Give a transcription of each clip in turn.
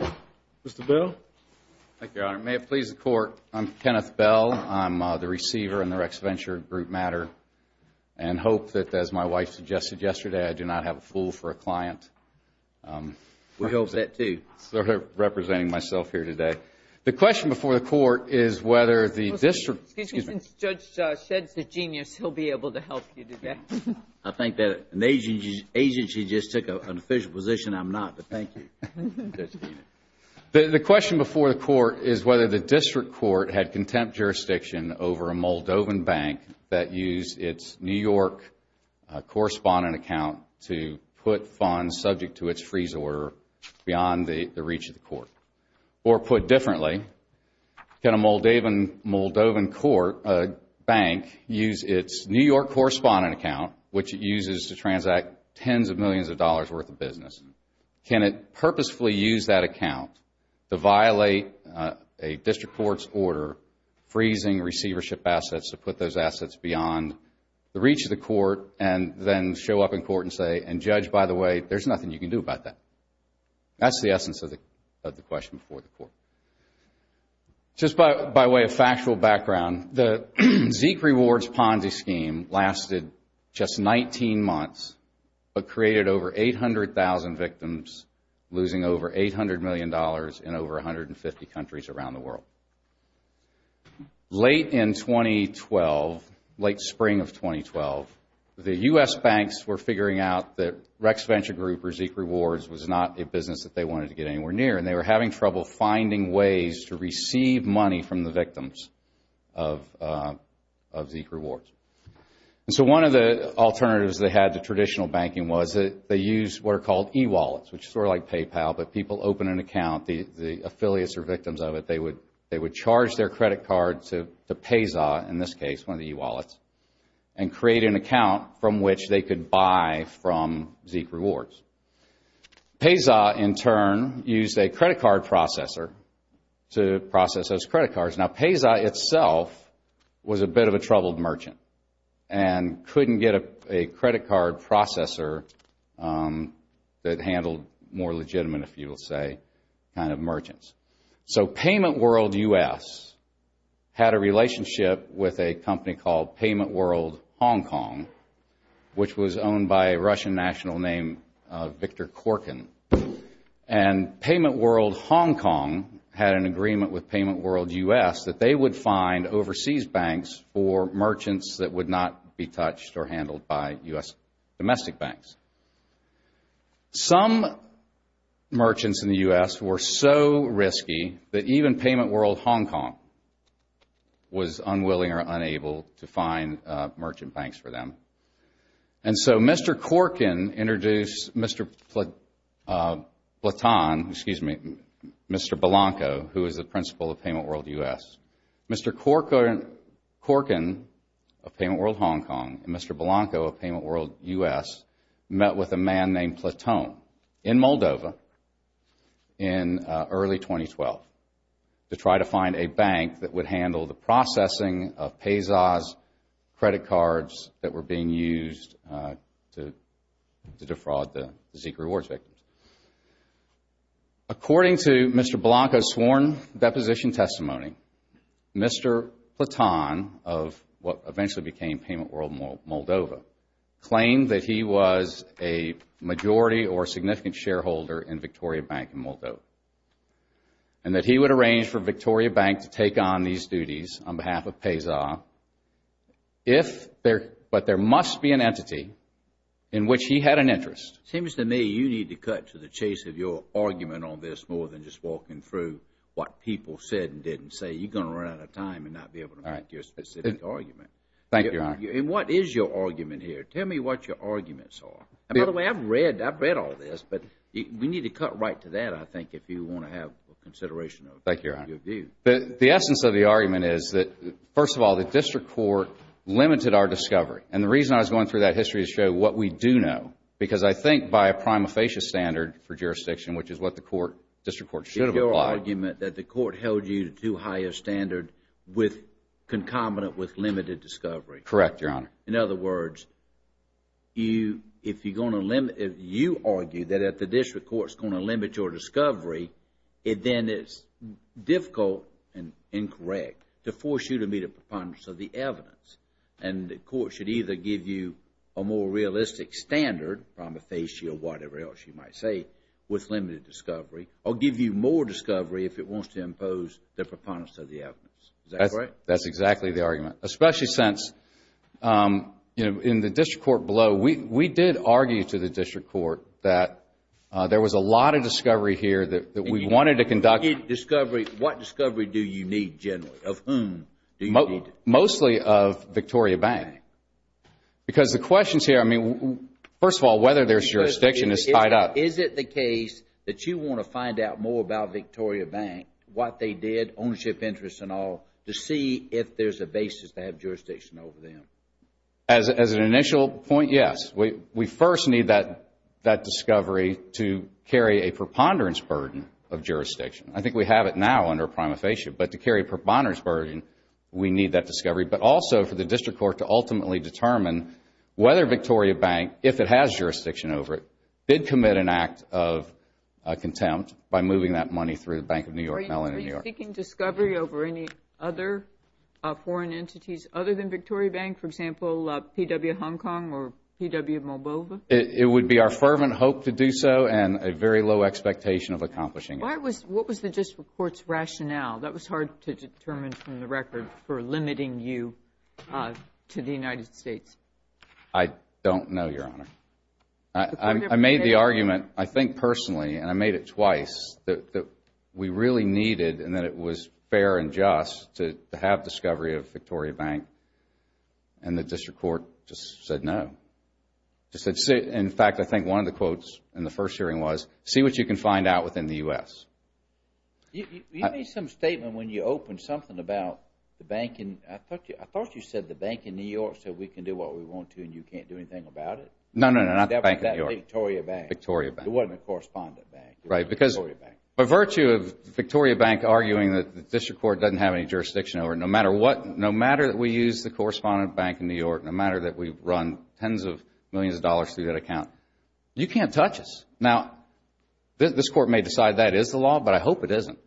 Mr. Bell. Thank you, Your Honor. May it please the Court. I'm Kenneth Bell. I'm the receiver in the Rex Venture Group matter and hope that, as my wife suggested yesterday, I do not have a fool for a client. We hope that, too. I'm representing myself here today. The question before the Court is whether the district- Excuse me. Since Judge Shedd's a genius, he'll be able to help you today. I think that an agency just took an official position. I'm not, but thank you. The question before the Court is whether the district court had contempt jurisdiction over a Moldovan bank that used its New York correspondent account to put funds subject to its freeze order beyond the reach of the court. Or put differently, can a Moldovan bank use its New York correspondent account, which it uses to transact tens of millions of dollars' worth of business? Can it purposefully use that account to violate a district court's order freezing receivership assets to put those assets beyond the reach of the court and then show up in court and say, and judge, by the way, there's nothing you can do about that? That's the essence of the question before the Court. Just by way of factual background, the Zeke Rewards Ponzi scheme lasted just 19 months but created over 800,000 victims, losing over $800 million in over 150 countries around the world. Late in 2012, late spring of 2012, the U.S. banks were figuring out that Rex Venture Group or Zeke Rewards was not a business that they wanted to get anywhere near and they were having trouble finding ways to receive money from the victims of Zeke Rewards. And so one of the alternatives they had to traditional banking was that they used what are called e-wallets, which is sort of like PayPal, but people open an account, the affiliates are victims of it, they would charge their credit card to PESA, in this case, one of the e-wallets, and create an account from which they could buy from Zeke Rewards. PESA, in turn, used a credit card processor to process those credit cards. Now PESA itself was a bit of a troubled merchant and couldn't get a credit card processor that handled more legitimate, if you will say, kind of merchants. So Payment World U.S. had a relationship with a company called Payment World Hong Kong, which was owned by a Russian national named Victor Korkin. And Payment World Hong Kong had an agreement with Payment World U.S. that they would find overseas banks for merchants that would not be touched or handled by U.S. domestic banks. Some merchants in the U.S. were so risky that even Payment World Hong Kong was unwilling or unable to find merchant banks for them. And so Mr. Korkin introduced Mr. Platon, excuse me, Mr. Blanco, who is the principal of Payment World U.S. Mr. Korkin of Payment World Hong Kong and Mr. Blanco of Payment World U.S. met with a man named Platon in Moldova in early 2012 to try to find a bank that would be used to defraud the Zika rewards victims. According to Mr. Blanco's sworn deposition testimony, Mr. Platon of what eventually became Payment World Moldova claimed that he was a majority or significant shareholder in Victoria Bank in Moldova and that he would arrange for Victoria Bank to take on these duties on behalf of PESA, but there must be an entity in which he had an interest. It seems to me you need to cut to the chase of your argument on this more than just walking through what people said and didn't say. You're going to run out of time and not be able to make your specific argument. Thank you, Your Honor. What is your argument here? Tell me what your arguments are. By the way, I've read all this, but we need to cut right to that, I think, if you want to have a consideration of what you do. The essence of the argument is that, first of all, the district court limited our discovery, and the reason I was going through that history is to show what we do know, because I think by a prima facie standard for jurisdiction, which is what the court, district court, should have applied. Is your argument that the court held you to too high a standard with, concomitant with limited discovery? Correct, Your Honor. In other words, you, if you're going to limit, if you argue that the district court is going to limit your discovery, then it's difficult and incorrect to force you to meet a preponderance of the evidence, and the court should either give you a more realistic standard, prima facie or whatever else you might say, with limited discovery, or give you more discovery if it wants to impose the preponderance of the evidence. Is that correct? That's exactly the argument, especially since, you know, in the district court blow, we did argue to the district court that there was a lot of discovery here that we wanted to conduct. What discovery do you need, generally? Of whom do you need? Mostly of Victoria Bank, because the questions here, I mean, first of all, whether there's jurisdiction is tied up. Is it the case that you want to find out more about Victoria Bank, what they did, ownership interests and all, to see if there's a basis to have jurisdiction over them? As an initial point, yes. We first need that discovery to carry a preponderance burden of jurisdiction. I think we have it now under prima facie, but to carry a preponderance burden, we need that discovery, but also for the district court to ultimately determine whether Victoria Bank, if it has jurisdiction over it, did commit an act of contempt by moving that money through the Bank of New York, Mellon in New York. Are you seeking discovery over any other foreign entities other than Victoria Bank, for example, P.W. Hong Kong or P.W. Moldova? It would be our fervent hope to do so and a very low expectation of accomplishing it. What was the district court's rationale? That was hard to determine from the record for limiting you to the United States. I don't know, Your Honor. I made the argument, I think personally, and I made it twice, that we really needed and that it was fair and just to have discovery of Victoria Bank, and the district court just said no. In fact, I think one of the quotes in the first hearing was, see what you can find out within the U.S. You made some statement when you opened something about the bank in, I thought you said the bank in New York said we can do what we want to and you can't do anything about it? No, no, no, not the bank in New York. Victoria Bank. Victoria Bank. It wasn't a correspondent bank. Right, because by virtue of Victoria Bank arguing that the district court doesn't have any jurisdiction over it, no matter what, no matter that we use the correspondent bank in New York, no matter that we've run tens of millions of dollars through that account, you can't touch us. Now, this court may decide that is the law, but I hope it isn't.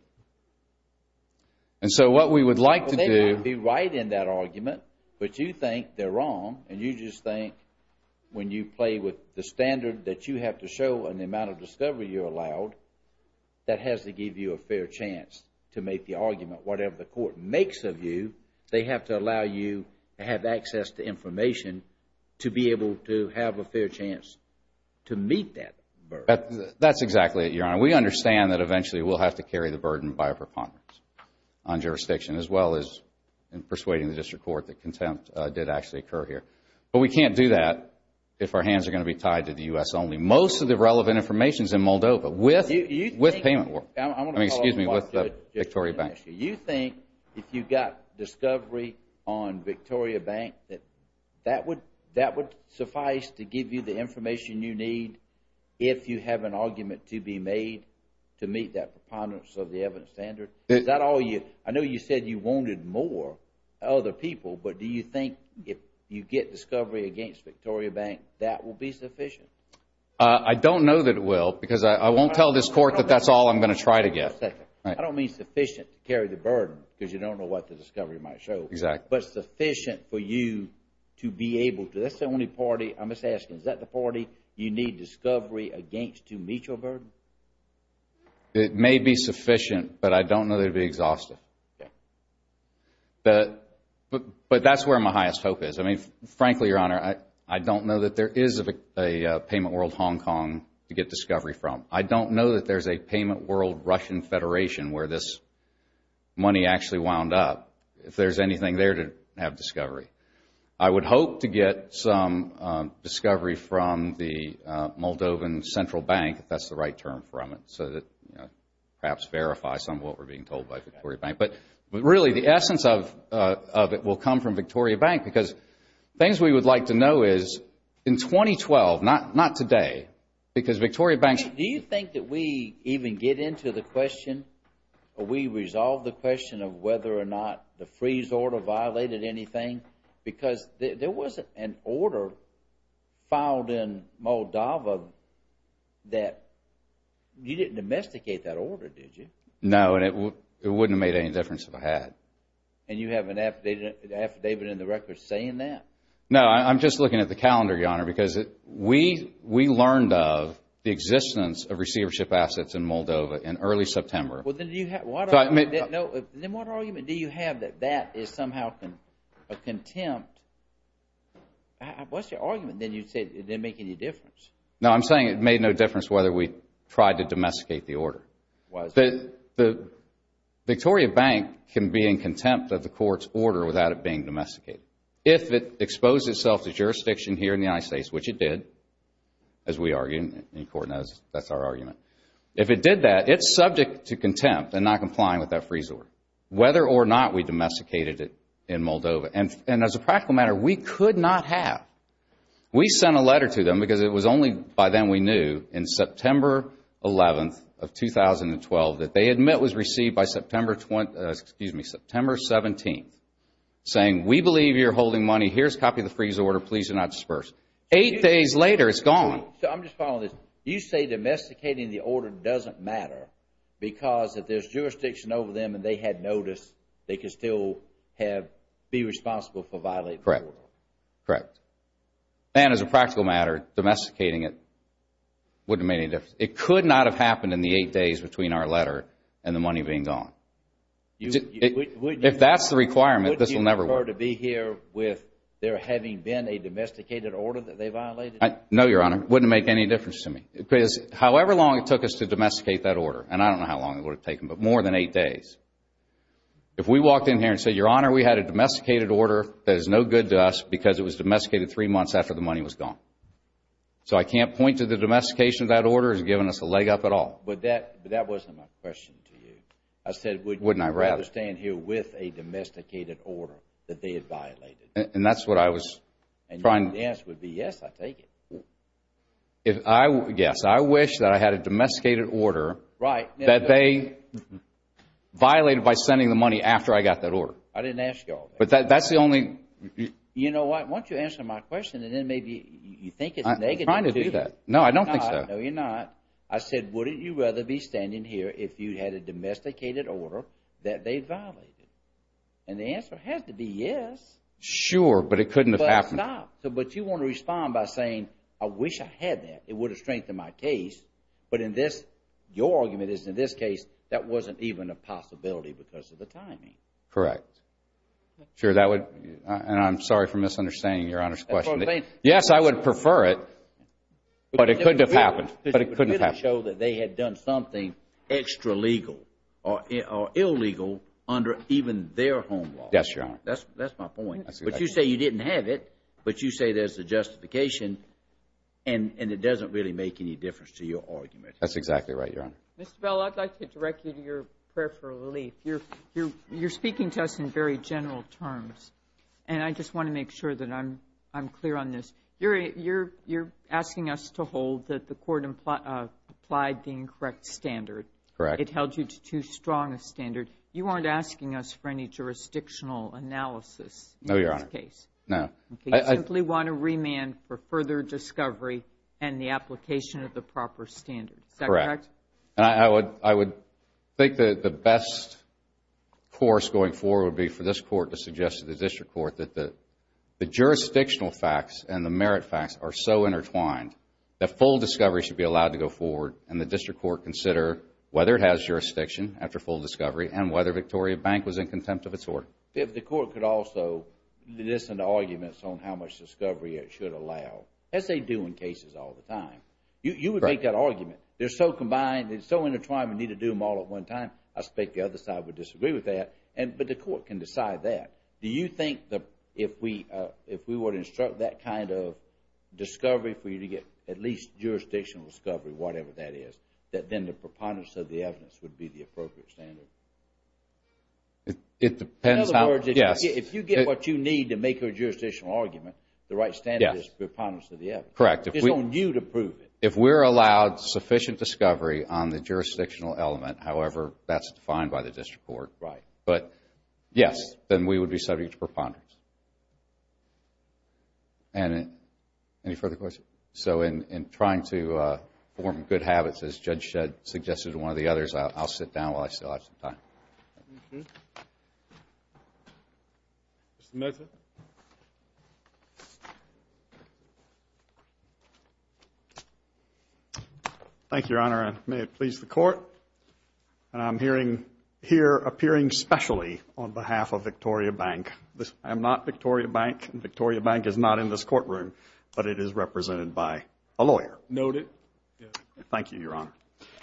And so what we would like to do Well, they might be right in that argument, but you think they're wrong and you just think when you play with the standard that you have to show and the amount of discovery you're allowed, that has to give you a fair chance to make the argument. Whatever the court makes of you, they have to allow you to have access to information to be able to have a fair chance to meet that burden. That's exactly it, Your Honor. We understand that eventually we'll have to carry the burden by a preponderance on jurisdiction as well as in persuading the district court that contempt did actually occur here, but we can't do that if our hands are going to be tied to the U.S. only. Most of the relevant information is in Moldova with payment warrants, excuse me, with Victoria Bank. You think if you've got discovery on Victoria Bank, that would suffice to give you the information you need if you have an argument to be made to meet that preponderance of the evidence standard? Is that all you, I know you said you wanted more other people, but do you think if you get discovery against Victoria Bank, that will be sufficient? I don't know that it will because I won't tell this court that that's all I'm going to try to get. I don't mean sufficient to carry the burden because you don't know what the discovery might show. Exactly. But sufficient for you to be able to, that's the only party, I must ask, is that the party you need discovery against to meet your burden? It may be sufficient, but I don't know that it would be exhaustive. But that's where my highest hope is. I mean, frankly, Your Honor, I don't know that there is a Payment World Hong Kong to get discovery from. I don't know that there's a Payment World Russian Federation where this money actually wound up, if there's anything there to have discovery. I would hope to get some discovery from the Moldovan Central Bank, if that's the right term from it, so that perhaps verify some of what we're being told by Victoria Bank. But really, the essence of it will come from Victoria Bank because things we would like to know is, in 2012, not today, because Victoria Bank's... Do you think that we even get into the question or we resolve the question of whether or not the freeze order violated anything? Because there was an order filed in Moldova that you didn't domesticate that order, did you? No, and it wouldn't have made any difference if I had. And you have an affidavit in the record saying that? No, I'm just looking at the calendar, Your Honor, because we learned of the existence of receivership assets in Moldova in early September. Then what argument do you have that that is somehow a contempt? What's your argument that you'd say it didn't make any difference? No, I'm saying it made no difference whether we tried to domesticate the order. Victoria Bank can be in contempt of the court's order without it being domesticated. If it exposed itself to jurisdiction here in the United States, which it did, as we and not complying with that freeze order, whether or not we domesticated it in Moldova. And as a practical matter, we could not have. We sent a letter to them because it was only by then we knew, in September 11th of 2012, that they admit was received by September 17th, saying, we believe you're holding money. Here's a copy of the freeze order. Please do not disperse. Eight days later, it's gone. I'm just following this. You say domesticating the order doesn't matter because if there's jurisdiction over them and they had notice, they could still be responsible for violating the order. Correct. And as a practical matter, domesticating it wouldn't have made any difference. It could not have happened in the eight days between our letter and the money being gone. If that's the requirement, this will never work. Would you prefer to be here with there having been a domesticated order that they violated? No, Your Honor. It wouldn't make any difference to me. Because however long it took us to domesticate that order, and I don't know how long it would have taken, but more than eight days. If we walked in here and said, Your Honor, we had a domesticated order that is no good to us because it was domesticated three months after the money was gone. So I can't point to the domestication of that order as giving us a leg up at all. But that wasn't my question to you. I said, would you rather stand here with a domesticated order that they had violated? And that's what I was trying to. The answer would be yes, I take it. Yes. I wish that I had a domesticated order that they violated by sending the money after I got that order. I didn't ask you all that. But that's the only. You know what? Why don't you answer my question and then maybe you think it's a negative, too. I'm trying to do that. No, I don't think so. No, you're not. I said, wouldn't you rather be standing here if you had a domesticated order that they violated? And the answer has to be yes. Sure, but it couldn't have happened. But you want to respond by saying, I wish I had that. It would have strengthened my case. But in this, your argument is in this case, that wasn't even a possibility because of the timing. Correct. Sure, that would. And I'm sorry for misunderstanding Your Honor's question. Yes, I would prefer it. But it couldn't have happened. But it couldn't have happened. Because it would really show that they had done something extra legal or illegal under even their home law. Yes, Your Honor. That's my point. But you say you didn't have it. But you say there's a justification. And it doesn't really make any difference to your argument. That's exactly right, Your Honor. Mr. Bell, I'd like to direct you to your prayer for relief. You're speaking to us in very general terms. And I just want to make sure that I'm clear on this. You're asking us to hold that the court applied the incorrect standard. Correct. It held you to too strong a standard. You aren't asking us for any jurisdictional analysis in this case. No, Your Honor. No. You simply want a remand for further discovery and the application of the proper standard. Is that correct? Correct. And I would think that the best course going forward would be for this Court to suggest to the District Court that the jurisdictional facts and the merit facts are so intertwined that full discovery should be allowed to go forward and the District Court consider whether it has jurisdiction after full discovery and whether Victoria Bank was in contempt of its order. If the Court could also listen to arguments on how much discovery it should allow, as they do in cases all the time. You would make that argument. They're so combined. They're so intertwined. We need to do them all at one time. I suspect the other side would disagree with that. But the Court can decide that. Do you think that if we were to instruct that kind of discovery for you to get at least jurisdictional discovery, whatever that is, that then the preponderance of the evidence would be the appropriate standard? It depends how. In other words, if you get what you need to make a jurisdictional argument, the right standard is preponderance of the evidence. Correct. It's on you to prove it. If we're allowed sufficient discovery on the jurisdictional element, however that's defined by the District Court, but yes, then we would be subject to preponderance. And any further questions? So, in trying to form good habits, as Judge Shedd suggested to one of the others, I'll sit down while I still have some time. Mr. Mesa? Thank you, Your Honor, and may it please the Court, I'm here appearing specially on behalf of Victoria Bank. I am not Victoria Bank. And Victoria Bank is not in this courtroom, but it is represented by a lawyer. Noted. Thank you, Your Honor.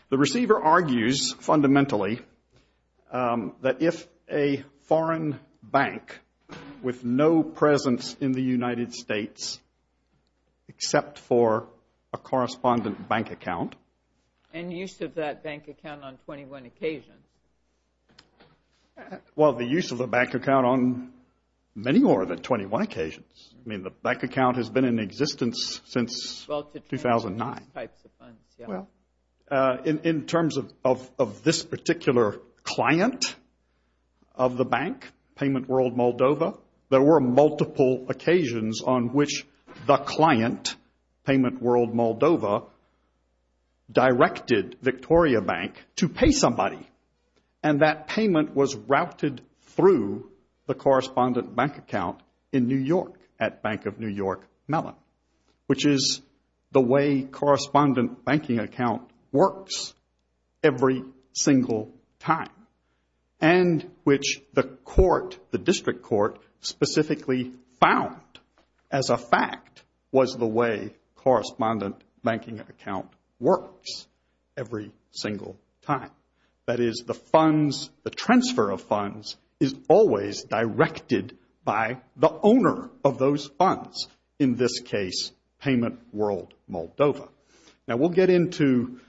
The receiver argues, fundamentally, that if a foreign bank with no presence in the United States except for a correspondent bank account. And use of that bank account on 21 occasions. Well, the use of the bank account on many more than 21 occasions. I mean, the bank account has been in existence since 2009. Well, in terms of this particular client of the bank, Payment World Moldova, there were multiple occasions on which the client, Payment World Moldova, directed Victoria Bank to pay somebody. And that payment was routed through the correspondent bank account in New York at Bank of New York Mellon. Which is the way correspondent banking account works every single time. And which the court, the district court, specifically found as a fact was the way correspondent banking account works every single time. That is, the funds, the transfer of funds is always directed by the owner of those funds. In this case, Payment World Moldova. Now, we'll get into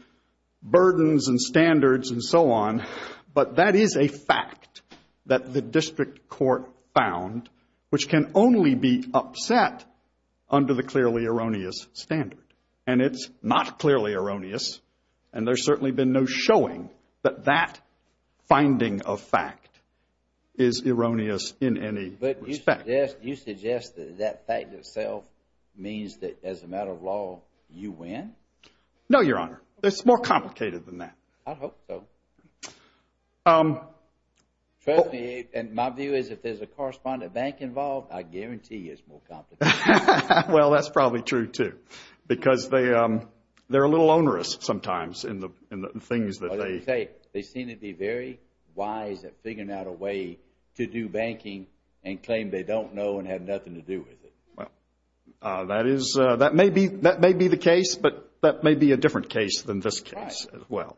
burdens and standards and so on, but that is a fact that the district court found, which can only be upset under the clearly erroneous standard. And it's not clearly erroneous, and there's certainly been no showing that that finding of fact is erroneous in any respect. But you suggest that that fact itself means that as a matter of law, you win? No, Your Honor. It's more complicated than that. I hope so. Trust me, and my view is if there's a correspondent bank involved, I guarantee it's more complicated. Well, that's probably true too. Because they're a little onerous sometimes in the things that they... They seem to be very wise at figuring out a way to do banking and claim they don't know and have nothing to do with it. Well, that may be the case, but that may be a different case than this case as well.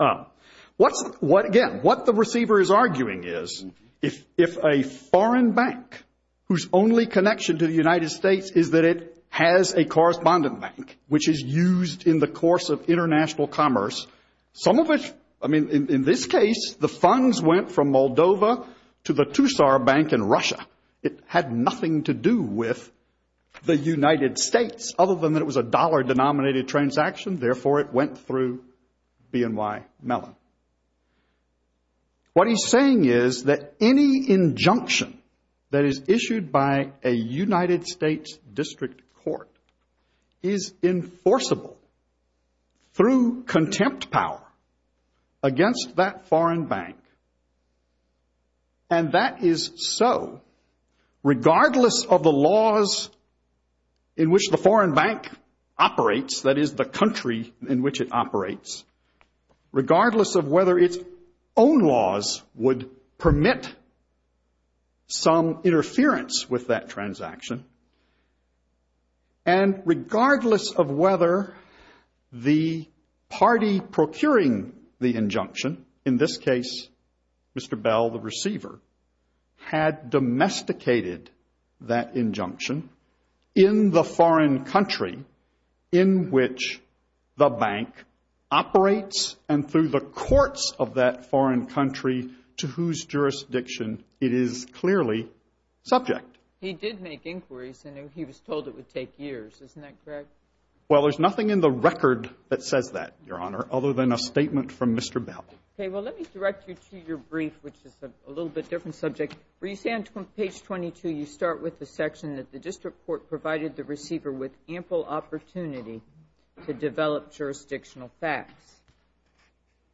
Again, what the receiver is arguing is if a foreign bank whose only connection to the United States is that it has a correspondent bank, which is used in the course of international commerce, some of it... I mean, in this case, the funds went from Moldova to the Tussar Bank in Russia. It had nothing to do with the United States other than that it was a dollar-denominated transaction. Therefore, it went through BNY Mellon. What he's saying is that any injunction that is issued by a United States district court is enforceable through contempt power against that foreign bank. And that is so regardless of the laws in which the foreign bank operates, that is, the country in which it operates, regardless of whether its own laws would permit some interference with that transaction, and regardless of whether the party procuring the injunction, in this case, Mr. Bell, the receiver, had domesticated that injunction in the foreign country in which the bank operates and through the courts of that foreign country to whose jurisdiction it is clearly subject. He did make inquiries, and he was told it would take years. Isn't that correct? Well, there's nothing in the record that says that, Your Honor, other than a statement from Mr. Bell. Okay, well, let me direct you to your brief, which is a little bit different subject. Where you say on page 22, you start with the section that the district court provided the receiver with ample opportunity to develop jurisdictional facts,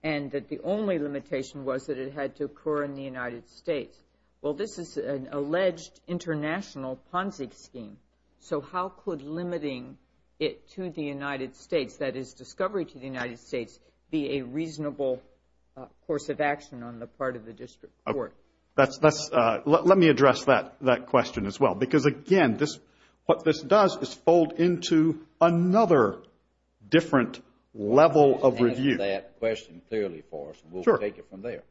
and that the only limitation was that it had to occur in the United States. Well, this is an alleged international Ponzi scheme, so how could limiting it to the United States be a reasonable course of action on the part of the district court? Let me address that question as well, because, again, what this does is fold into another different level of review. Answer that question clearly for us, and we'll take it from there.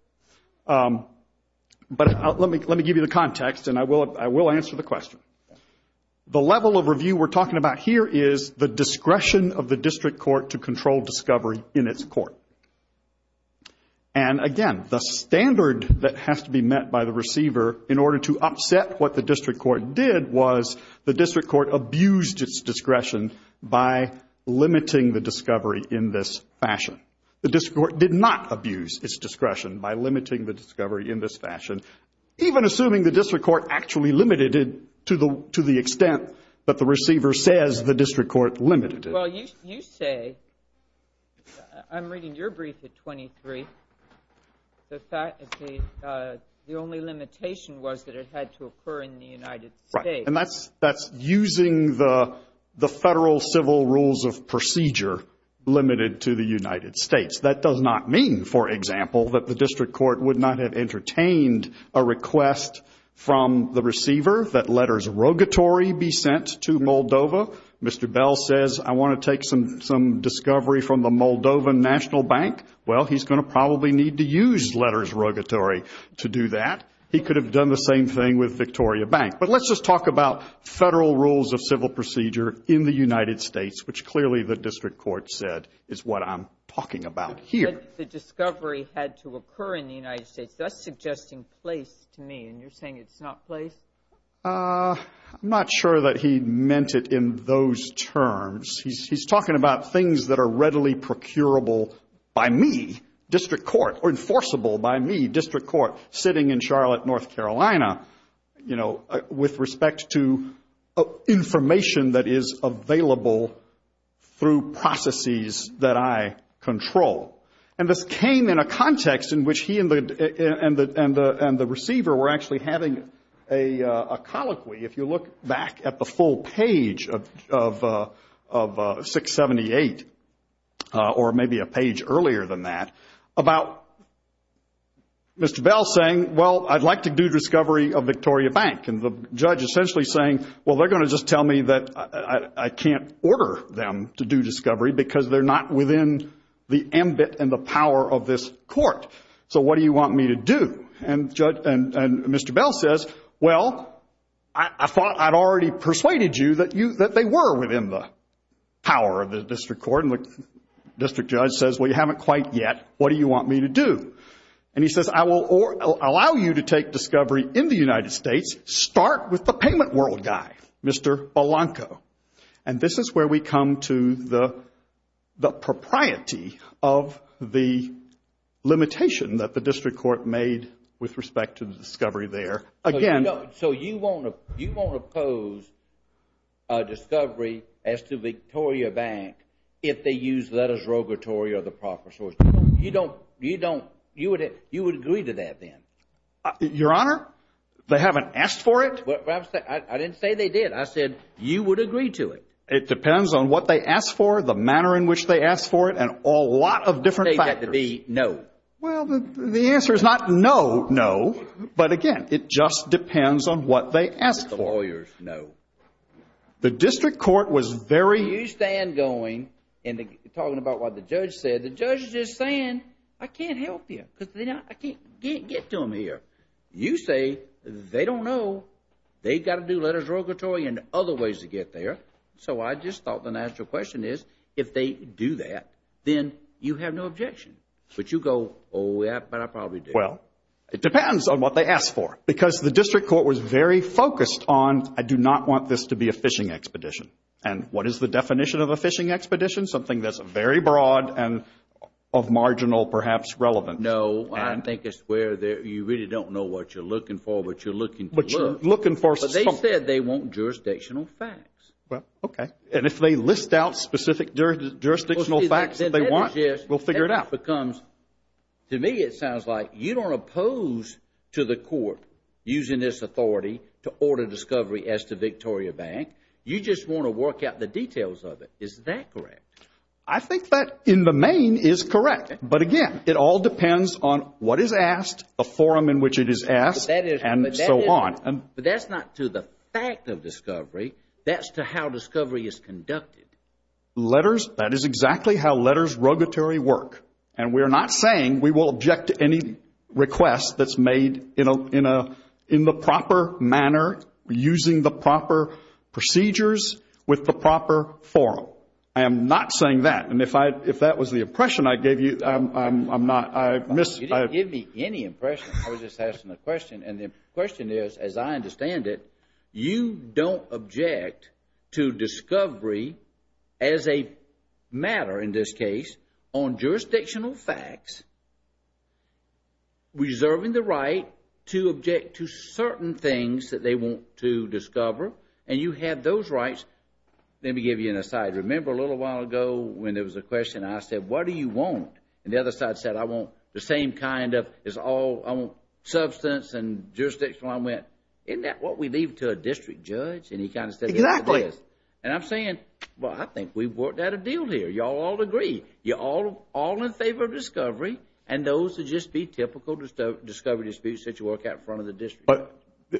But let me give you the context, and I will answer the question. The level of review we're talking about here is the discretion of the district court to control discovery in its court. And, again, the standard that has to be met by the receiver in order to upset what the district court did was the district court abused its discretion by limiting the discovery in this fashion. The district court did not abuse its discretion by limiting the discovery in this fashion, even assuming the district court actually limited it to the extent that the receiver says the district court limited it. Well, you say, I'm reading your brief at 23, that the only limitation was that it had to occur in the United States. Right. And that's using the Federal civil rules of procedure limited to the United States. That does not mean, for example, that the district court would not have entertained a request from the receiver that letters rogatory be sent to Moldova. Mr. Bell says, I want to take some discovery from the Moldovan National Bank. Well, he's going to probably need to use letters rogatory to do that. He could have done the same thing with Victoria Bank. But let's just talk about Federal rules of civil procedure in the United States, which clearly the district court said is what I'm talking about here. But the discovery had to occur in the United States. That's suggesting place to me, and you're saying it's not place? I'm not sure that he meant it in those terms. He's talking about things that are readily procurable by me, district court, or enforceable by me, district court, sitting in Charlotte, North Carolina, you know, with respect to information that is available through processes that I control. And this came in a context in which he and the receiver were actually having a colloquy, if you look back at the full page of 678, or maybe a page earlier than that, about Mr. Bell saying, well, I'd like to do discovery of Victoria Bank. And the judge essentially saying, well, they're going to just tell me that I can't order them to do discovery because they're not within the ambit and the power of this court. So what do you want me to do? And Mr. Bell says, well, I thought I'd already persuaded you that they were within the power of the district court. And the district judge says, well, you haven't quite yet. What do you want me to do? And he says, I will allow you to take discovery in the United States. Start with the payment world guy, Mr. Belanco. And this is where we come to the propriety of the limitation that the district court made with respect to the discovery there. Again. So you won't oppose a discovery as to Victoria Bank if they use letters rogatory or the proper source. You don't, you don't, you would agree to that then? Your Honor, they haven't asked for it. I didn't say they did. I said you would agree to it. It depends on what they ask for, the manner in which they ask for it, and a lot of different factors. Say that to be no. Well, the answer is not no, no. But again, it just depends on what they ask for. The lawyers know. The district court was very... You stand going and talking about what the judge said. The judge is just saying, I can't help you because I can't get to them here. You say they don't know. They've got to do letters rogatory and other ways to get there. So I just thought the natural question is, if they do that, then you have no objection. But you go, oh, yeah, but I probably do. Well, it depends on what they ask for because the district court was very focused on, I do not want this to be a fishing expedition. And what is the definition of a fishing expedition? Something that's very broad and of marginal, perhaps, relevance. No, I think it's where you really don't know what you're looking for, what you're looking to learn. But you're looking for something. But they said they want jurisdictional facts. Well, okay. And if they list out specific jurisdictional facts that they want, we'll figure it out. To me it sounds like you don't oppose to the court using this authority to order discovery as to Victoria Bank. You just want to work out the details of it. Is that correct? I think that in the main is correct. But, again, it all depends on what is asked, the forum in which it is asked, and so on. But that's not to the fact of discovery. That's to how discovery is conducted. Letters, that is exactly how letters rogatory work. And we are not saying we will object to any request that's made in the proper manner, using the proper procedures with the proper forum. I am not saying that. And if that was the impression I gave you, I'm not. You didn't give me any impression. I was just asking a question. And the question is, as I understand it, you don't object to discovery as a matter, in this case, on jurisdictional facts, reserving the right to object to certain things that they want to discover. And you have those rights. Let me give you an aside. I remember a little while ago when there was a question. I said, what do you want? And the other side said, I want the same kind of substance and jurisdiction. Well, I went, isn't that what we leave to a district judge? And he kind of said, yes, it is. Exactly. And I'm saying, well, I think we've worked out a deal here. You all would agree. You're all in favor of discovery, and those would just be typical discovery disputes that you work out in front of the district judge.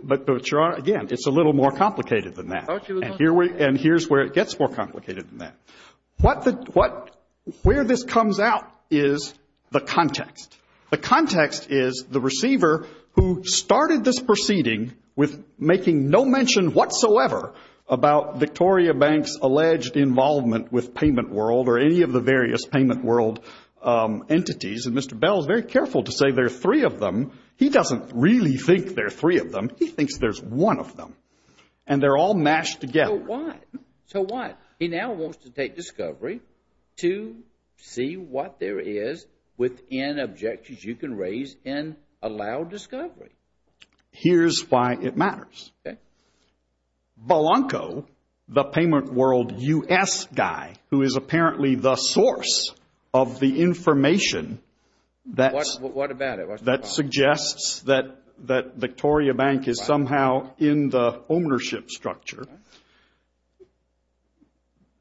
But, Your Honor, again, it's a little more complicated than that. And here's where it gets more complicated than that. Where this comes out is the context. The context is the receiver who started this proceeding with making no mention whatsoever about Victoria Bank's alleged involvement with PaymentWorld or any of the various PaymentWorld entities. And Mr. Bell is very careful to say there are three of them. He doesn't really think there are three of them. He thinks there's one of them. And they're all mashed together. So what? He now wants to take discovery to see what there is within objections you can raise and allow discovery. Here's why it matters. Okay. Belanco, the PaymentWorld U.S. guy, who is apparently the source of the information that suggests that Victoria Bank is somehow in the ownership structure,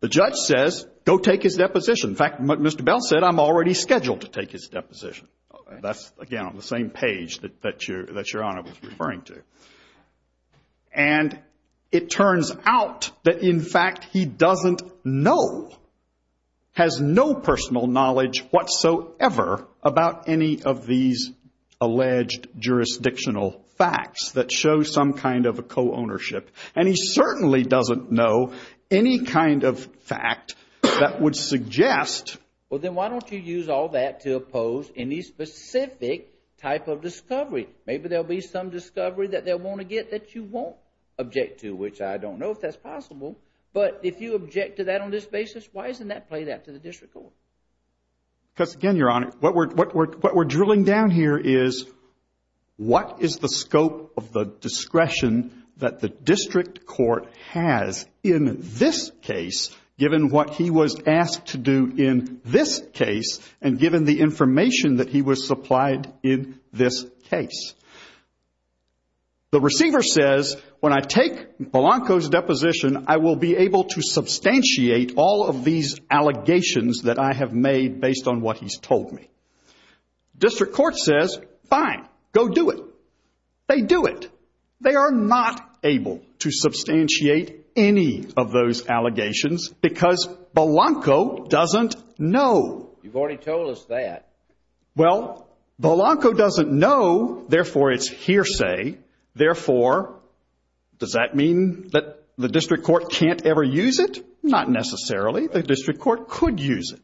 the judge says, go take his deposition. In fact, Mr. Bell said, I'm already scheduled to take his deposition. That's, again, on the same page that Your Honor was referring to. And it turns out that, in fact, he doesn't know, has no personal knowledge whatsoever about any of these alleged jurisdictional facts that show some kind of a co-ownership. And he certainly doesn't know any kind of fact that would suggest. Well, then why don't you use all that to oppose any specific type of discovery? Maybe there will be some discovery that they'll want to get that you won't object to, which I don't know if that's possible. But if you object to that on this basis, why isn't that played out to the district court? Because, again, Your Honor, what we're drilling down here is, what is the scope of the discretion that the district court has in this case, given what he was asked to do in this case, and given the information that he was supplied in this case? The receiver says, when I take Belanco's deposition, I will be able to substantiate all of these allegations that I have made based on what he's told me. District court says, fine, go do it. They do it. They are not able to substantiate any of those allegations because Belanco doesn't know. You've already told us that. Well, Belanco doesn't know. Therefore, it's hearsay. Therefore, does that mean that the district court can't ever use it? Not necessarily. The district court could use it.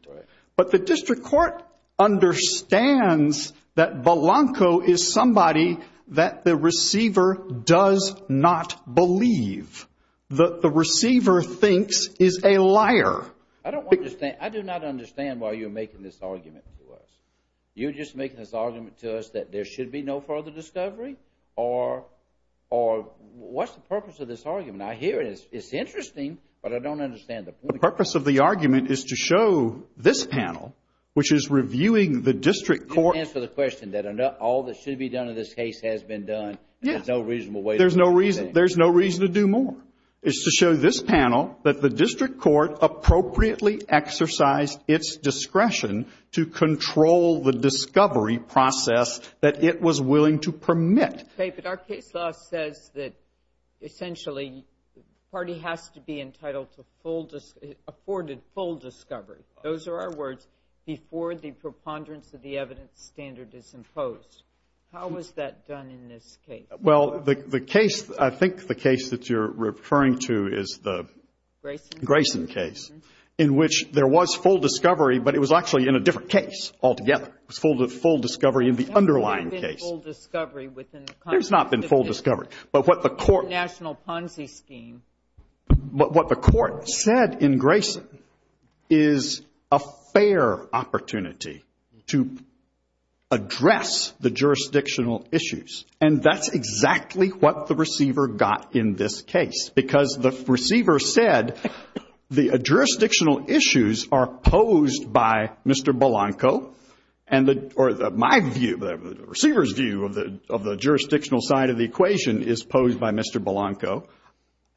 But the district court understands that Belanco is somebody that the receiver does not believe, that the receiver thinks is a liar. I don't understand. I do not understand why you're making this argument to us. You're just making this argument to us that there should be no further discovery? Or what's the purpose of this argument? I hear it. It's interesting, but I don't understand the point. The purpose of the argument is to show this panel, which is reviewing the district court. To answer the question that all that should be done in this case has been done. There's no reasonable way to do anything. There's no reason to do more. It's to show this panel that the district court appropriately exercised its discretion to control the discovery process that it was willing to permit. Okay, but our case law says that essentially the party has to be entitled to afforded full discovery. Those are our words before the preponderance of the evidence standard is imposed. How is that done in this case? Well, the case, I think the case that you're referring to is the Grayson case, in which there was full discovery, but it was actually in a different case altogether. It was full discovery in the underlying case. There's not been full discovery. There's not been full discovery. But what the court. National Ponzi scheme. But what the court said in Grayson is a fair opportunity to address the jurisdictional issues. And that's exactly what the receiver got in this case, because the receiver said the jurisdictional issues are posed by Mr. Blanco,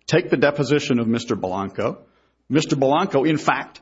take the deposition of Mr. Blanco. Mr. Blanco, in fact,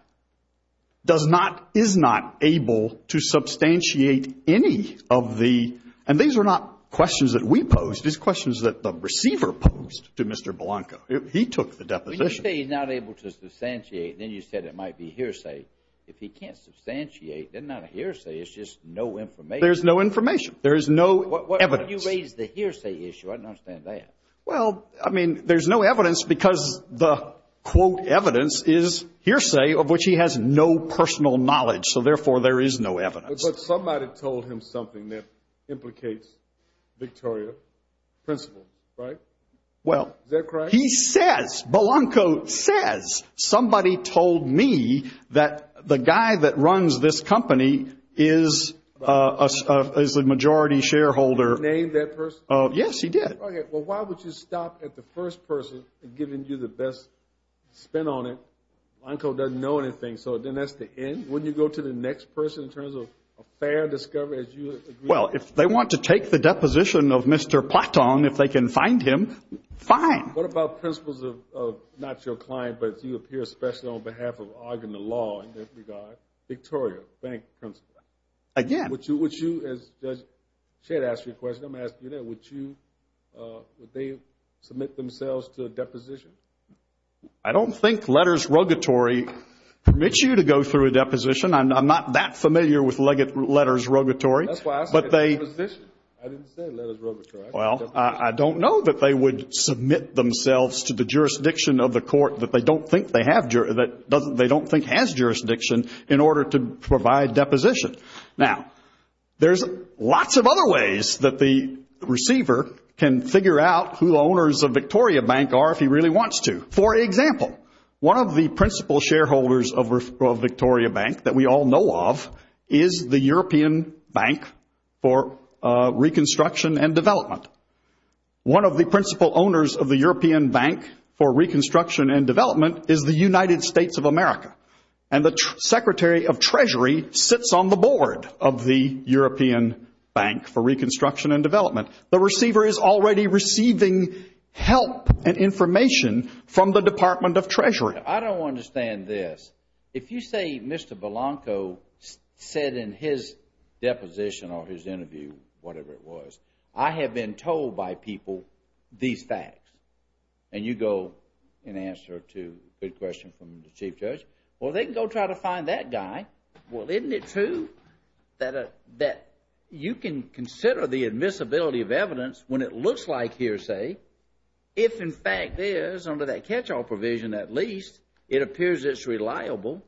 does not, is not able to substantiate any of the, and these are not questions that we posed. These are questions that the receiver posed to Mr. Blanco. He took the deposition. When you say he's not able to substantiate, then you said it might be hearsay. If he can't substantiate, then not a hearsay. It's just no information. There's no information. There is no evidence. When you raise the hearsay issue, I don't understand that. Well, I mean, there's no evidence because the, quote, evidence is hearsay of which he has no personal knowledge. So, therefore, there is no evidence. But somebody told him something that implicates Victoria principle, right? Well. Is that correct? He says, Blanco says, somebody told me that the guy that runs this company is a majority shareholder. Named that person? Yes, he did. Okay. Well, why would you stop at the first person and giving you the best spin on it? Blanco doesn't know anything. So then that's the end? Wouldn't you go to the next person in terms of a fair discovery as you agree? Well, if they want to take the deposition of Mr. Plattong, if they can find him, fine. What about principles of not your client, but you appear especially on behalf of arguing the law in this regard? Victoria bank principle. Again. Would you, as Judge Chet asked you a question, I'm going to ask you that. Would they submit themselves to a deposition? I don't think letters rogatory permits you to go through a deposition. I'm not that familiar with letters rogatory. That's why I said deposition. I didn't say letters rogatory. Well, I don't know that they would submit themselves to the jurisdiction of the court that they don't think they have, that they don't think has jurisdiction in order to provide deposition. Now, there's lots of other ways that the receiver can figure out who the owners of Victoria Bank are if he really wants to. For example, one of the principal shareholders of Victoria Bank that we all know of is the European Bank for Reconstruction and Development. One of the principal owners of the European Bank for Reconstruction and Development is the United States of America. And the Secretary of Treasury sits on the board of the European Bank for Reconstruction and Development. The receiver is already receiving help and information from the Department of Treasury. I don't understand this. If you say Mr. Belanco said in his deposition or his interview, whatever it was, I have been told by people these facts. And you go and answer a good question from the Chief Judge. Well, they can go try to find that guy. Well, isn't it true that you can consider the admissibility of evidence when it looks like hearsay if in fact there is, under that catch-all provision at least, it appears it's reliable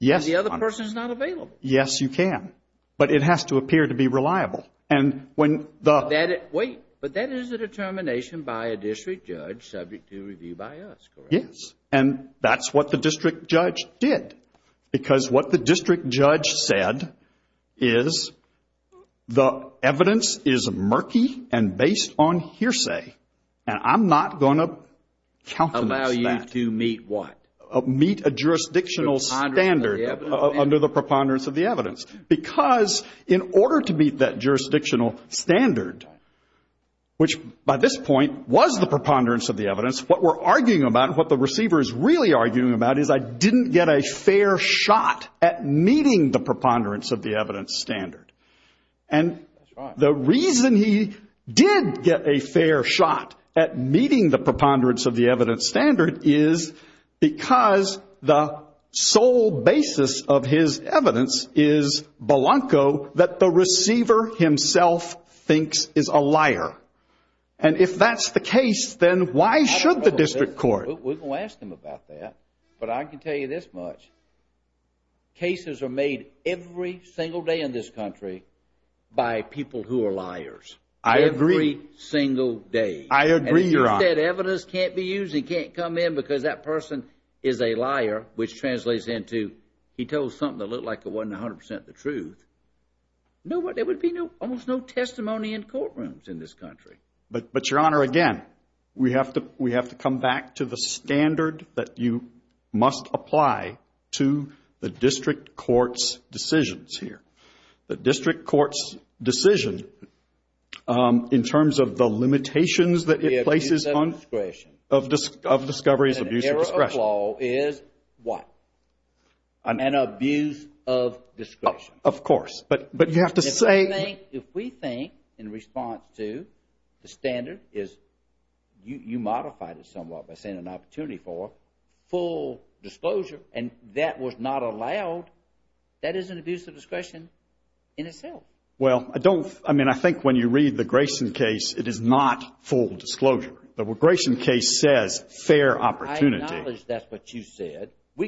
and the other person is not available? Yes, you can. But it has to appear to be reliable. Wait, but that is a determination by a district judge subject to review by us, correct? Yes. And that's what the district judge did. Because what the district judge said is the evidence is murky and based on hearsay. And I'm not going to countenance that. Allow you to meet what? Meet a jurisdictional standard under the preponderance of the evidence. Because in order to meet that jurisdictional standard, which by this point was the preponderance of the evidence, what we're arguing about and what the receiver is really arguing about is I didn't get a fair shot at meeting the preponderance of the evidence standard. And the reason he did get a fair shot at meeting the preponderance of the evidence standard is because the sole basis of his evidence is balonco that the receiver himself thinks is a liar. And if that's the case, then why should the district court? We're going to ask him about that. But I can tell you this much. Cases are made every single day in this country by people who are liars. I agree. Every single day. I agree, Your Honor. And if you said evidence can't be used, it can't come in because that person is a liar, which translates into he told something that looked like it wasn't 100% the truth, there would be almost no testimony in courtrooms in this country. But, Your Honor, again, we have to come back to the standard that you must apply to the district court's decisions here. The district court's decision in terms of the limitations that it places on discoveries of abuse of discretion. An error of law is what? An abuse of discretion. Of course. If we think in response to the standard is you modified it somewhat by saying an opportunity for full disclosure and that was not allowed, that is an abuse of discretion in itself. Well, I think when you read the Grayson case, it is not full disclosure. The Grayson case says fair opportunity. I acknowledge that's what you said. I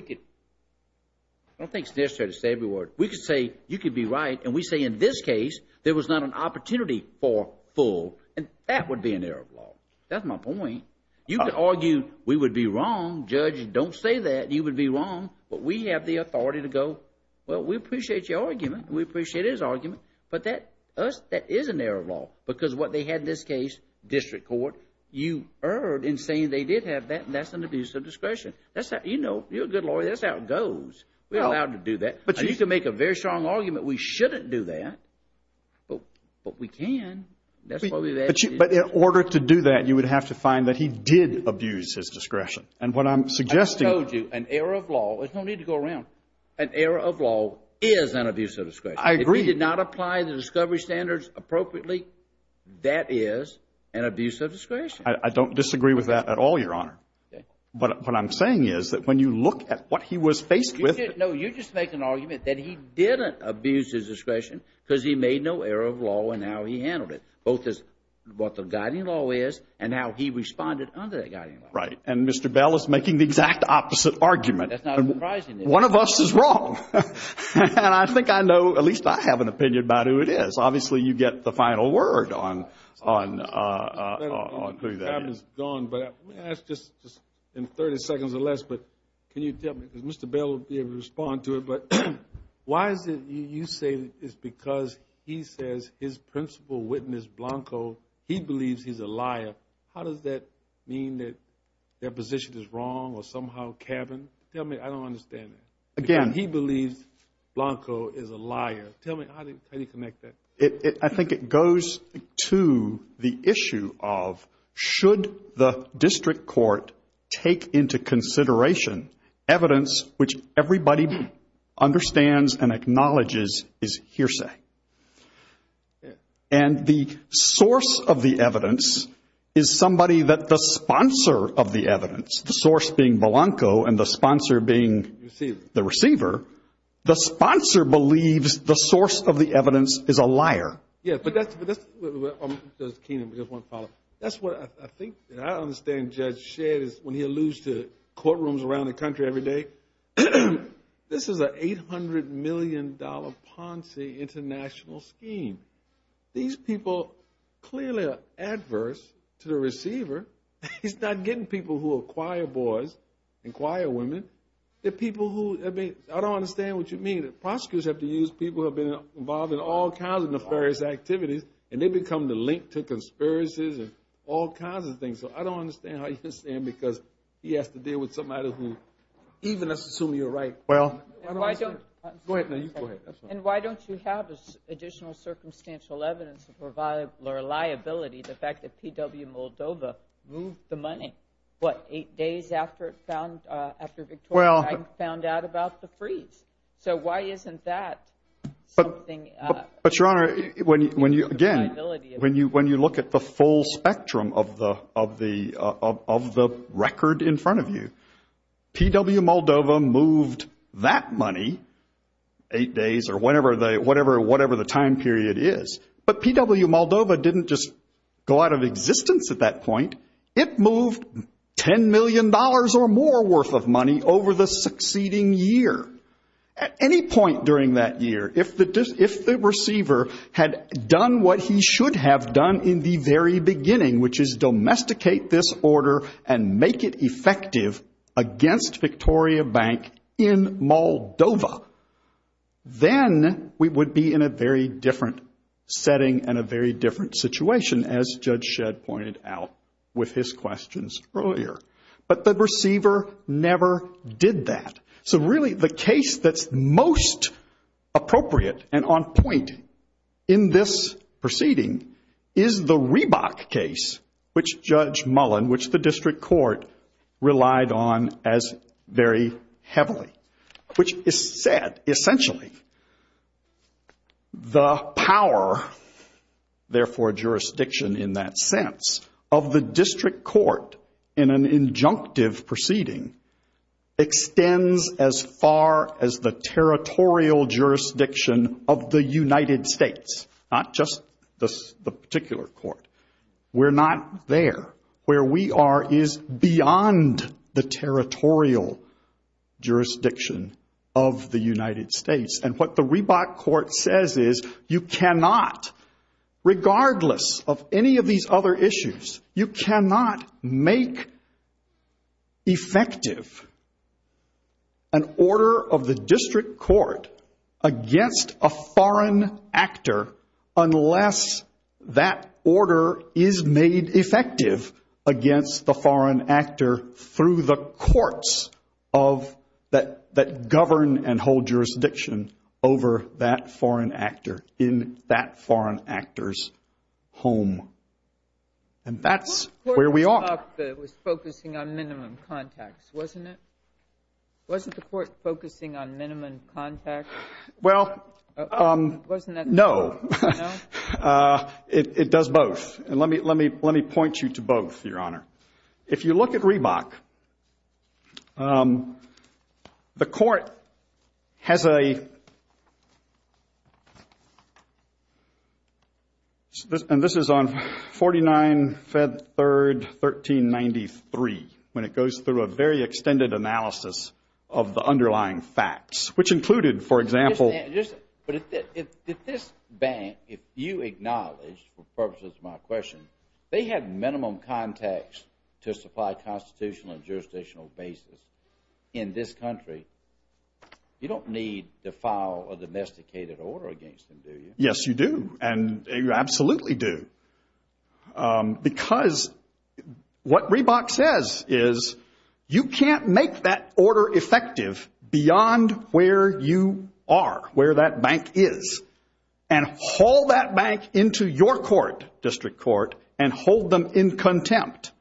don't think it's necessary to say every word. We could say you could be right and we say in this case there was not an opportunity for full and that would be an error of law. That's my point. You could argue we would be wrong. Judge, don't say that. You would be wrong. But we have the authority to go, well, we appreciate your argument. We appreciate his argument. But that is an error of law because what they had in this case, district court, you erred in saying they did have that and that's an abuse of discretion. You're a good lawyer. That's how it goes. We're allowed to do that. You can make a very strong argument we shouldn't do that. But we can. But in order to do that, you would have to find that he did abuse his discretion. And what I'm suggesting. I told you, an error of law, there's no need to go around, an error of law is an abuse of discretion. I agree. If he did not apply the discovery standards appropriately, that is an abuse of discretion. I don't disagree with that at all, Your Honor. But what I'm saying is that when you look at what he was faced with. No, you're just making an argument that he didn't abuse his discretion because he made no error of law in how he handled it, both as what the guiding law is and how he responded under that guiding law. Right. And Mr. Bell is making the exact opposite argument. That's not surprising. One of us is wrong. And I think I know, at least I have an opinion about who it is. Obviously, you get the final word on who that is. That's just in 30 seconds or less. But can you tell me, because Mr. Bell will be able to respond to it. But why is it you say it's because he says his principal witness, Blanco, he believes he's a liar. How does that mean that their position is wrong or somehow cabined? Tell me. I don't understand that. Again. He believes Blanco is a liar. Tell me, how do you connect that? I think it goes to the issue of should the district court take into consideration evidence which everybody understands and acknowledges is hearsay. And the source of the evidence is somebody that the sponsor of the evidence, the source being Blanco and the sponsor being the receiver, the sponsor believes the source of the evidence is a liar. Yes, but that's what I think, and I understand Judge Shedd, when he alludes to courtrooms around the country every day, this is an $800 million Ponzi international scheme. These people clearly are adverse to the receiver. He's not getting people who acquire boys and acquire women. I don't understand what you mean. Prosecutors have to use people who have been involved in all kinds of nefarious activities, and they become the link to conspiracies and all kinds of things. So I don't understand how you understand because he has to deal with somebody who, even assuming you're right. Well, go ahead. And why don't you have additional circumstantial evidence to provide reliability, the fact that PW Moldova moved the money, what, eight days after it was found, after Victoria found out about the freeze? So why isn't that something? But, Your Honor, again, when you look at the full spectrum of the record in front of you, PW Moldova moved that money eight days or whatever the time period is, but PW Moldova didn't just go out of existence at that point. It moved $10 million or more worth of money over the succeeding year. At any point during that year, if the receiver had done what he should have done in the very beginning, which is domesticate this order and make it effective against Victoria Bank in Moldova, then we would be in a very different setting and a very different situation, as Judge Shedd pointed out with his questions earlier. But the receiver never did that. So really the case that's most appropriate and on point in this proceeding is the Reebok case, which Judge Mullen, which the district court relied on as very heavily, which said essentially the power, therefore jurisdiction in that sense, of the district court in an injunctive proceeding extends as far as the territorial jurisdiction of the United States, not just the particular court. We're not there. Where we are is beyond the territorial jurisdiction of the United States. And what the Reebok court says is you cannot, regardless of any of these other issues, you cannot make effective an order of the district court against a foreign actor unless that order is made effective against the foreign actor through the courts that govern and hold jurisdiction over that foreign actor in that foreign actor's home. And that's where we are. The court in Reebok was focusing on minimum contacts, wasn't it? Wasn't the court focusing on minimum contacts? Well, no. It does both. And let me point you to both, Your Honor. If you look at Reebok, the court has a, and this is on 49 Feb. 3, 1393, when it goes through a very extended analysis of the underlying facts, which included, for example But if this bank, if you acknowledge, for purposes of my question, they have minimum contacts to supply constitutional and jurisdictional basis in this country, you don't need to file a domesticated order against them, do you? Yes, you do. And you absolutely do. Because what Reebok says is you can't make that order effective beyond where you are, where that bank is, and haul that bank into your court, district court, and hold them in contempt.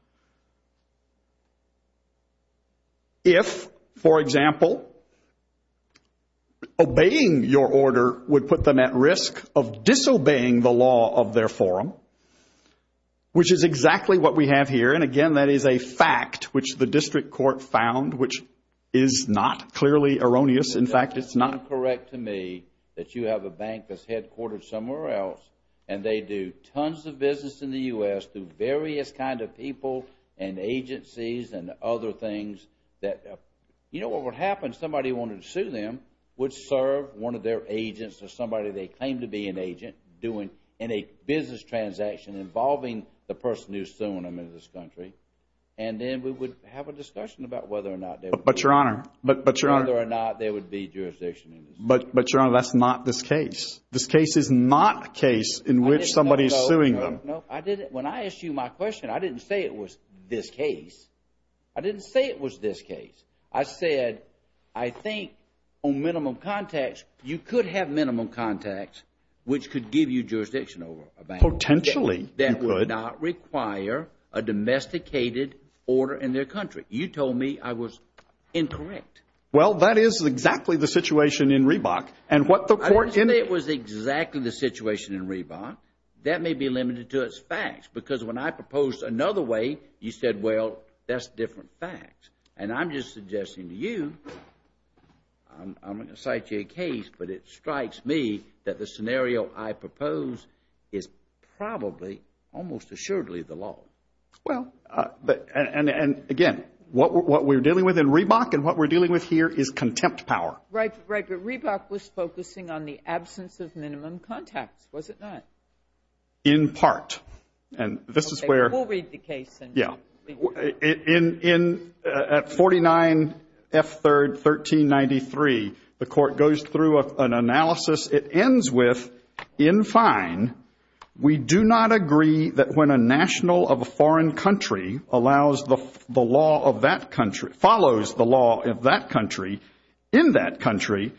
If, for example, obeying your order would put them at risk of disobeying the law of their forum, which is exactly what we have here. And again, that is a fact which the district court found, which is not clearly erroneous. In fact, it's not. It's incorrect to me that you have a bank that's headquartered somewhere else, and they do tons of business in the U.S. through various kind of people and agencies and other things. You know what would happen? Somebody who wanted to sue them would serve one of their agents or somebody they claim to be an agent in a business transaction involving the person who's suing them in this country. And then we would have a discussion about whether or not they would be jurisdiction. But, Your Honor, that's not this case. This case is not a case in which somebody is suing them. No, I didn't. When I asked you my question, I didn't say it was this case. I didn't say it was this case. I said I think on minimum contacts you could have minimum contacts which could give you jurisdiction over a bank. Potentially you could. That would not require a domesticated order in their country. You told me I was incorrect. Well, that is exactly the situation in Reebok. I didn't say it was exactly the situation in Reebok. That may be limited to its facts because when I proposed another way, you said, well, that's different facts. And I'm just suggesting to you, I'm not going to cite you a case, but it strikes me that the scenario I propose is probably almost assuredly the law. Well, and again, what we're dealing with in Reebok and what we're dealing with here is contempt power. Right, but Reebok was focusing on the absence of minimum contacts, was it not? In part. And this is where. Okay, we'll read the case. Yeah. At 49 F. 3rd, 1393, the Court goes through an analysis. It ends with, in fine, we do not agree that when a national of a foreign country allows the law of that country, follows the law of that country, in that country,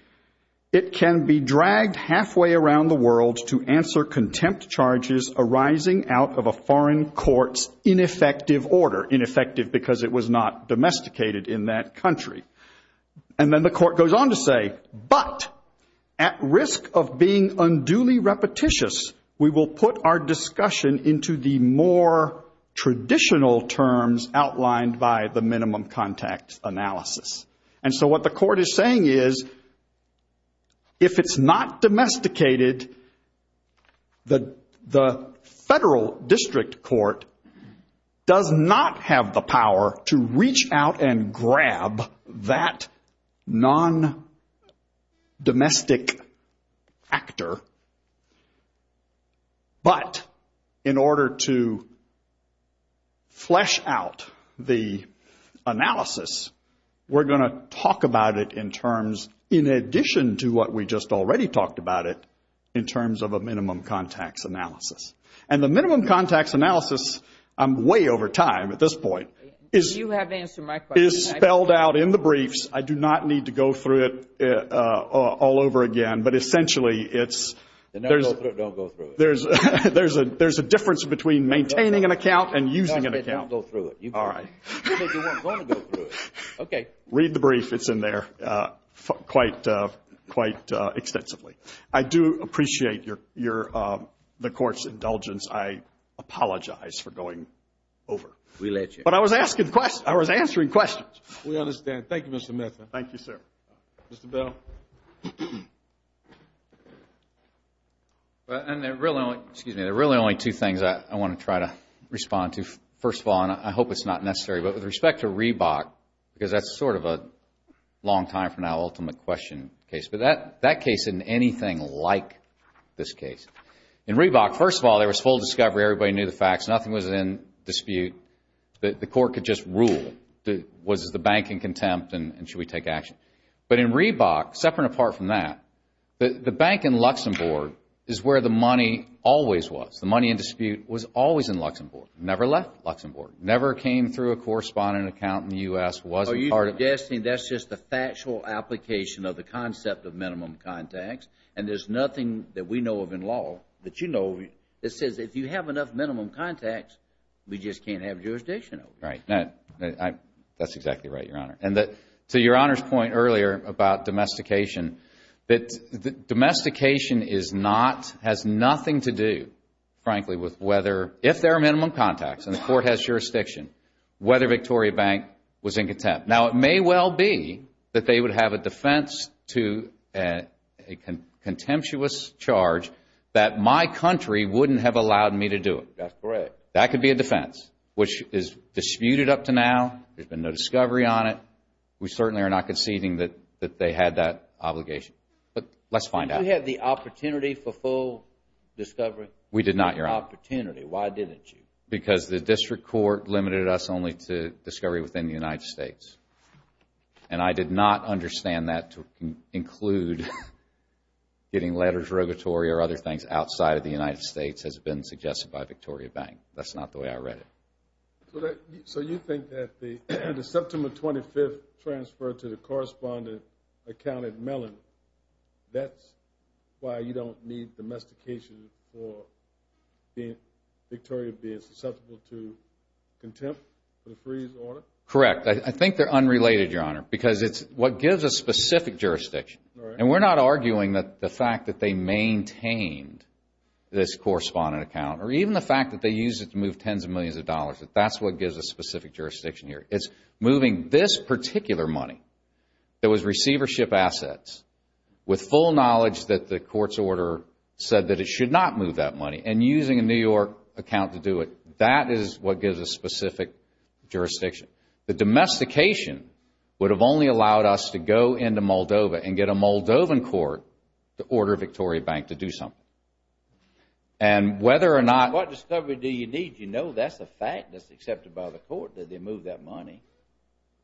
it can be dragged halfway around the world to answer contempt charges arising out of a foreign court's ineffective order. Ineffective because it was not domesticated in that country. And then the Court goes on to say, but at risk of being unduly repetitious, we will put our discussion into the more traditional terms outlined by the minimum contact analysis. And so what the Court is saying is, if it's not domesticated, the federal district court does not have the power to reach out and grab that non-domestic actor. But in order to flesh out the analysis, we're going to talk about it in terms, in addition to what we just already talked about it, in terms of a minimum contacts analysis. And the minimum contacts analysis, I'm way over time at this point, is spelled out in the briefs. I do not need to go through it all over again. But essentially, there's a difference between maintaining an account and using an account. All right. Read the brief. It's in there quite extensively. I do appreciate the Court's indulgence. I apologize for going over. We let you. But I was answering questions. We understand. Thank you, Mr. Metha. Thank you, sir. Mr. Bell. And there are really only two things I want to try to respond to, first of all, and I hope it's not necessary, but with respect to Reebok, because that's sort of a long time from now, ultimate question case, but that case isn't anything like this case. In Reebok, first of all, there was full discovery. Everybody knew the facts. Nothing was in dispute. The Court could just rule. Was the bank in contempt and should we take action? But in Reebok, separate and apart from that, the bank in Luxembourg is where the money always was. The money in dispute was always in Luxembourg. Never left Luxembourg. Never came through a correspondent account in the U.S., wasn't part of it. Are you suggesting that's just the factual application of the concept of minimum contacts and there's nothing that we know of in law that you know of that says if you have enough minimum contacts, we just can't have jurisdiction over you? Right. That's exactly right, Your Honor. And to Your Honor's point earlier about domestication, that domestication is not, has nothing to do, frankly, with whether, if there are minimum contacts and the Court has jurisdiction, whether Victoria Bank was in contempt. Now, it may well be that they would have a defense to a contemptuous charge that my country wouldn't have allowed me to do it. That's correct. That could be a defense, which is disputed up to now. There's been no discovery on it. We certainly are not conceding that they had that obligation. But let's find out. Did you have the opportunity for full discovery? We did not, Your Honor. Opportunity. Why didn't you? Because the District Court limited us only to discovery within the United States. And I did not understand that to include getting letters, regulatory or other things outside of the United States as been suggested by Victoria Bank. That's not the way I read it. So you think that the September 25th transfer to the correspondent account at Mellon, that's why you don't need domestication for Victoria being susceptible to contempt for the freeze order? Correct. I think they're unrelated, Your Honor, because it's what gives us specific jurisdiction. And we're not arguing that the fact that they maintained this correspondent account or even the fact that they used it to move tens of millions of dollars, that that's what gives us specific jurisdiction here. It's moving this particular money that was receivership assets with full knowledge that the court's order said that it should not move that money and using a New York account to do it. That is what gives us specific jurisdiction. The domestication would have only allowed us to go into Moldova and get a Moldovan court to order Victoria Bank to do something. And whether or not... What discovery do you need to know? That's a fact that's accepted by the court that they moved that money.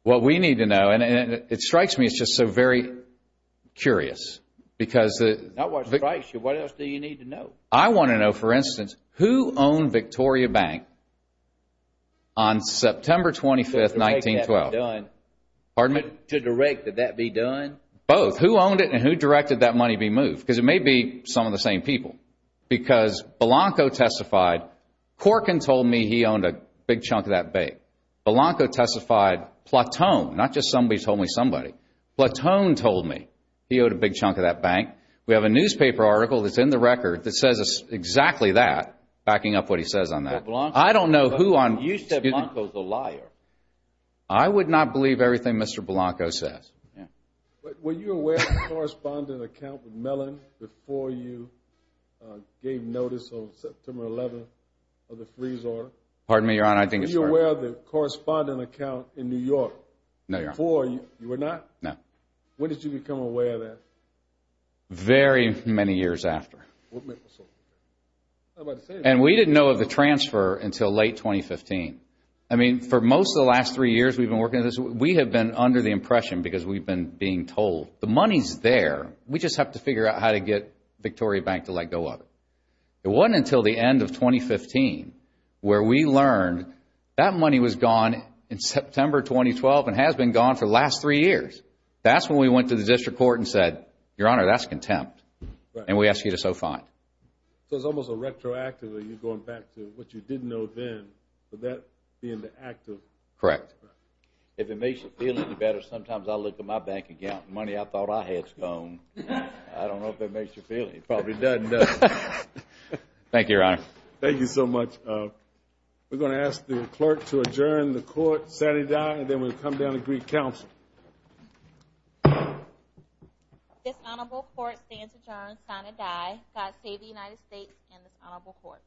What we need to know, and it strikes me, it's just so very curious because... Not what strikes you. What else do you need to know? I want to know, for instance, who owned Victoria Bank on September 25th, 1912? To direct that be done. Pardon me? To direct that that be done. Both. Who owned it and who directed that money be moved? Because it may be some of the same people. Because Blanco testified, Corkin told me he owned a big chunk of that bank. Blanco testified, Platone, not just somebody told me somebody, Platone told me he owed a big chunk of that bank. We have a newspaper article that's in the record that says exactly that, backing up what he says on that. But Blanco... I don't know who on... You said Blanco's a liar. I would not believe everything Mr. Blanco says. Were you aware of the correspondent account with Mellon before you gave notice on September 11th of the freeze order? Pardon me, Your Honor, I think it's... Were you aware of the correspondent account in New York? No, Your Honor. Before, you were not? No. When did you become aware of that? Very many years after. What made you so aware? And we didn't know of the transfer until late 2015. I mean, for most of the last three years we've been working on this, we have been under the impression because we've been being told the money's there, we just have to figure out how to get Victoria Bank to let go of it. It wasn't until the end of 2015 where we learned that money was gone in September 2012 and has been gone for the last three years. That's when we went to the district court and said, Your Honor, that's contempt, and we ask you to so fine. So it's almost a retroactive of you going back to what you didn't know then, but that being the act of... Correct. If it makes you feel any better, sometimes I look at my bank account and money I thought I had is gone. I don't know if that makes you feel any better. It probably doesn't, does it? Thank you, Your Honor. Thank you so much. We're going to ask the clerk to adjourn the court, sign it down, and then we'll come down to Greek Council. This honorable court stands adjourned, sign it down. God save the United States and this honorable court.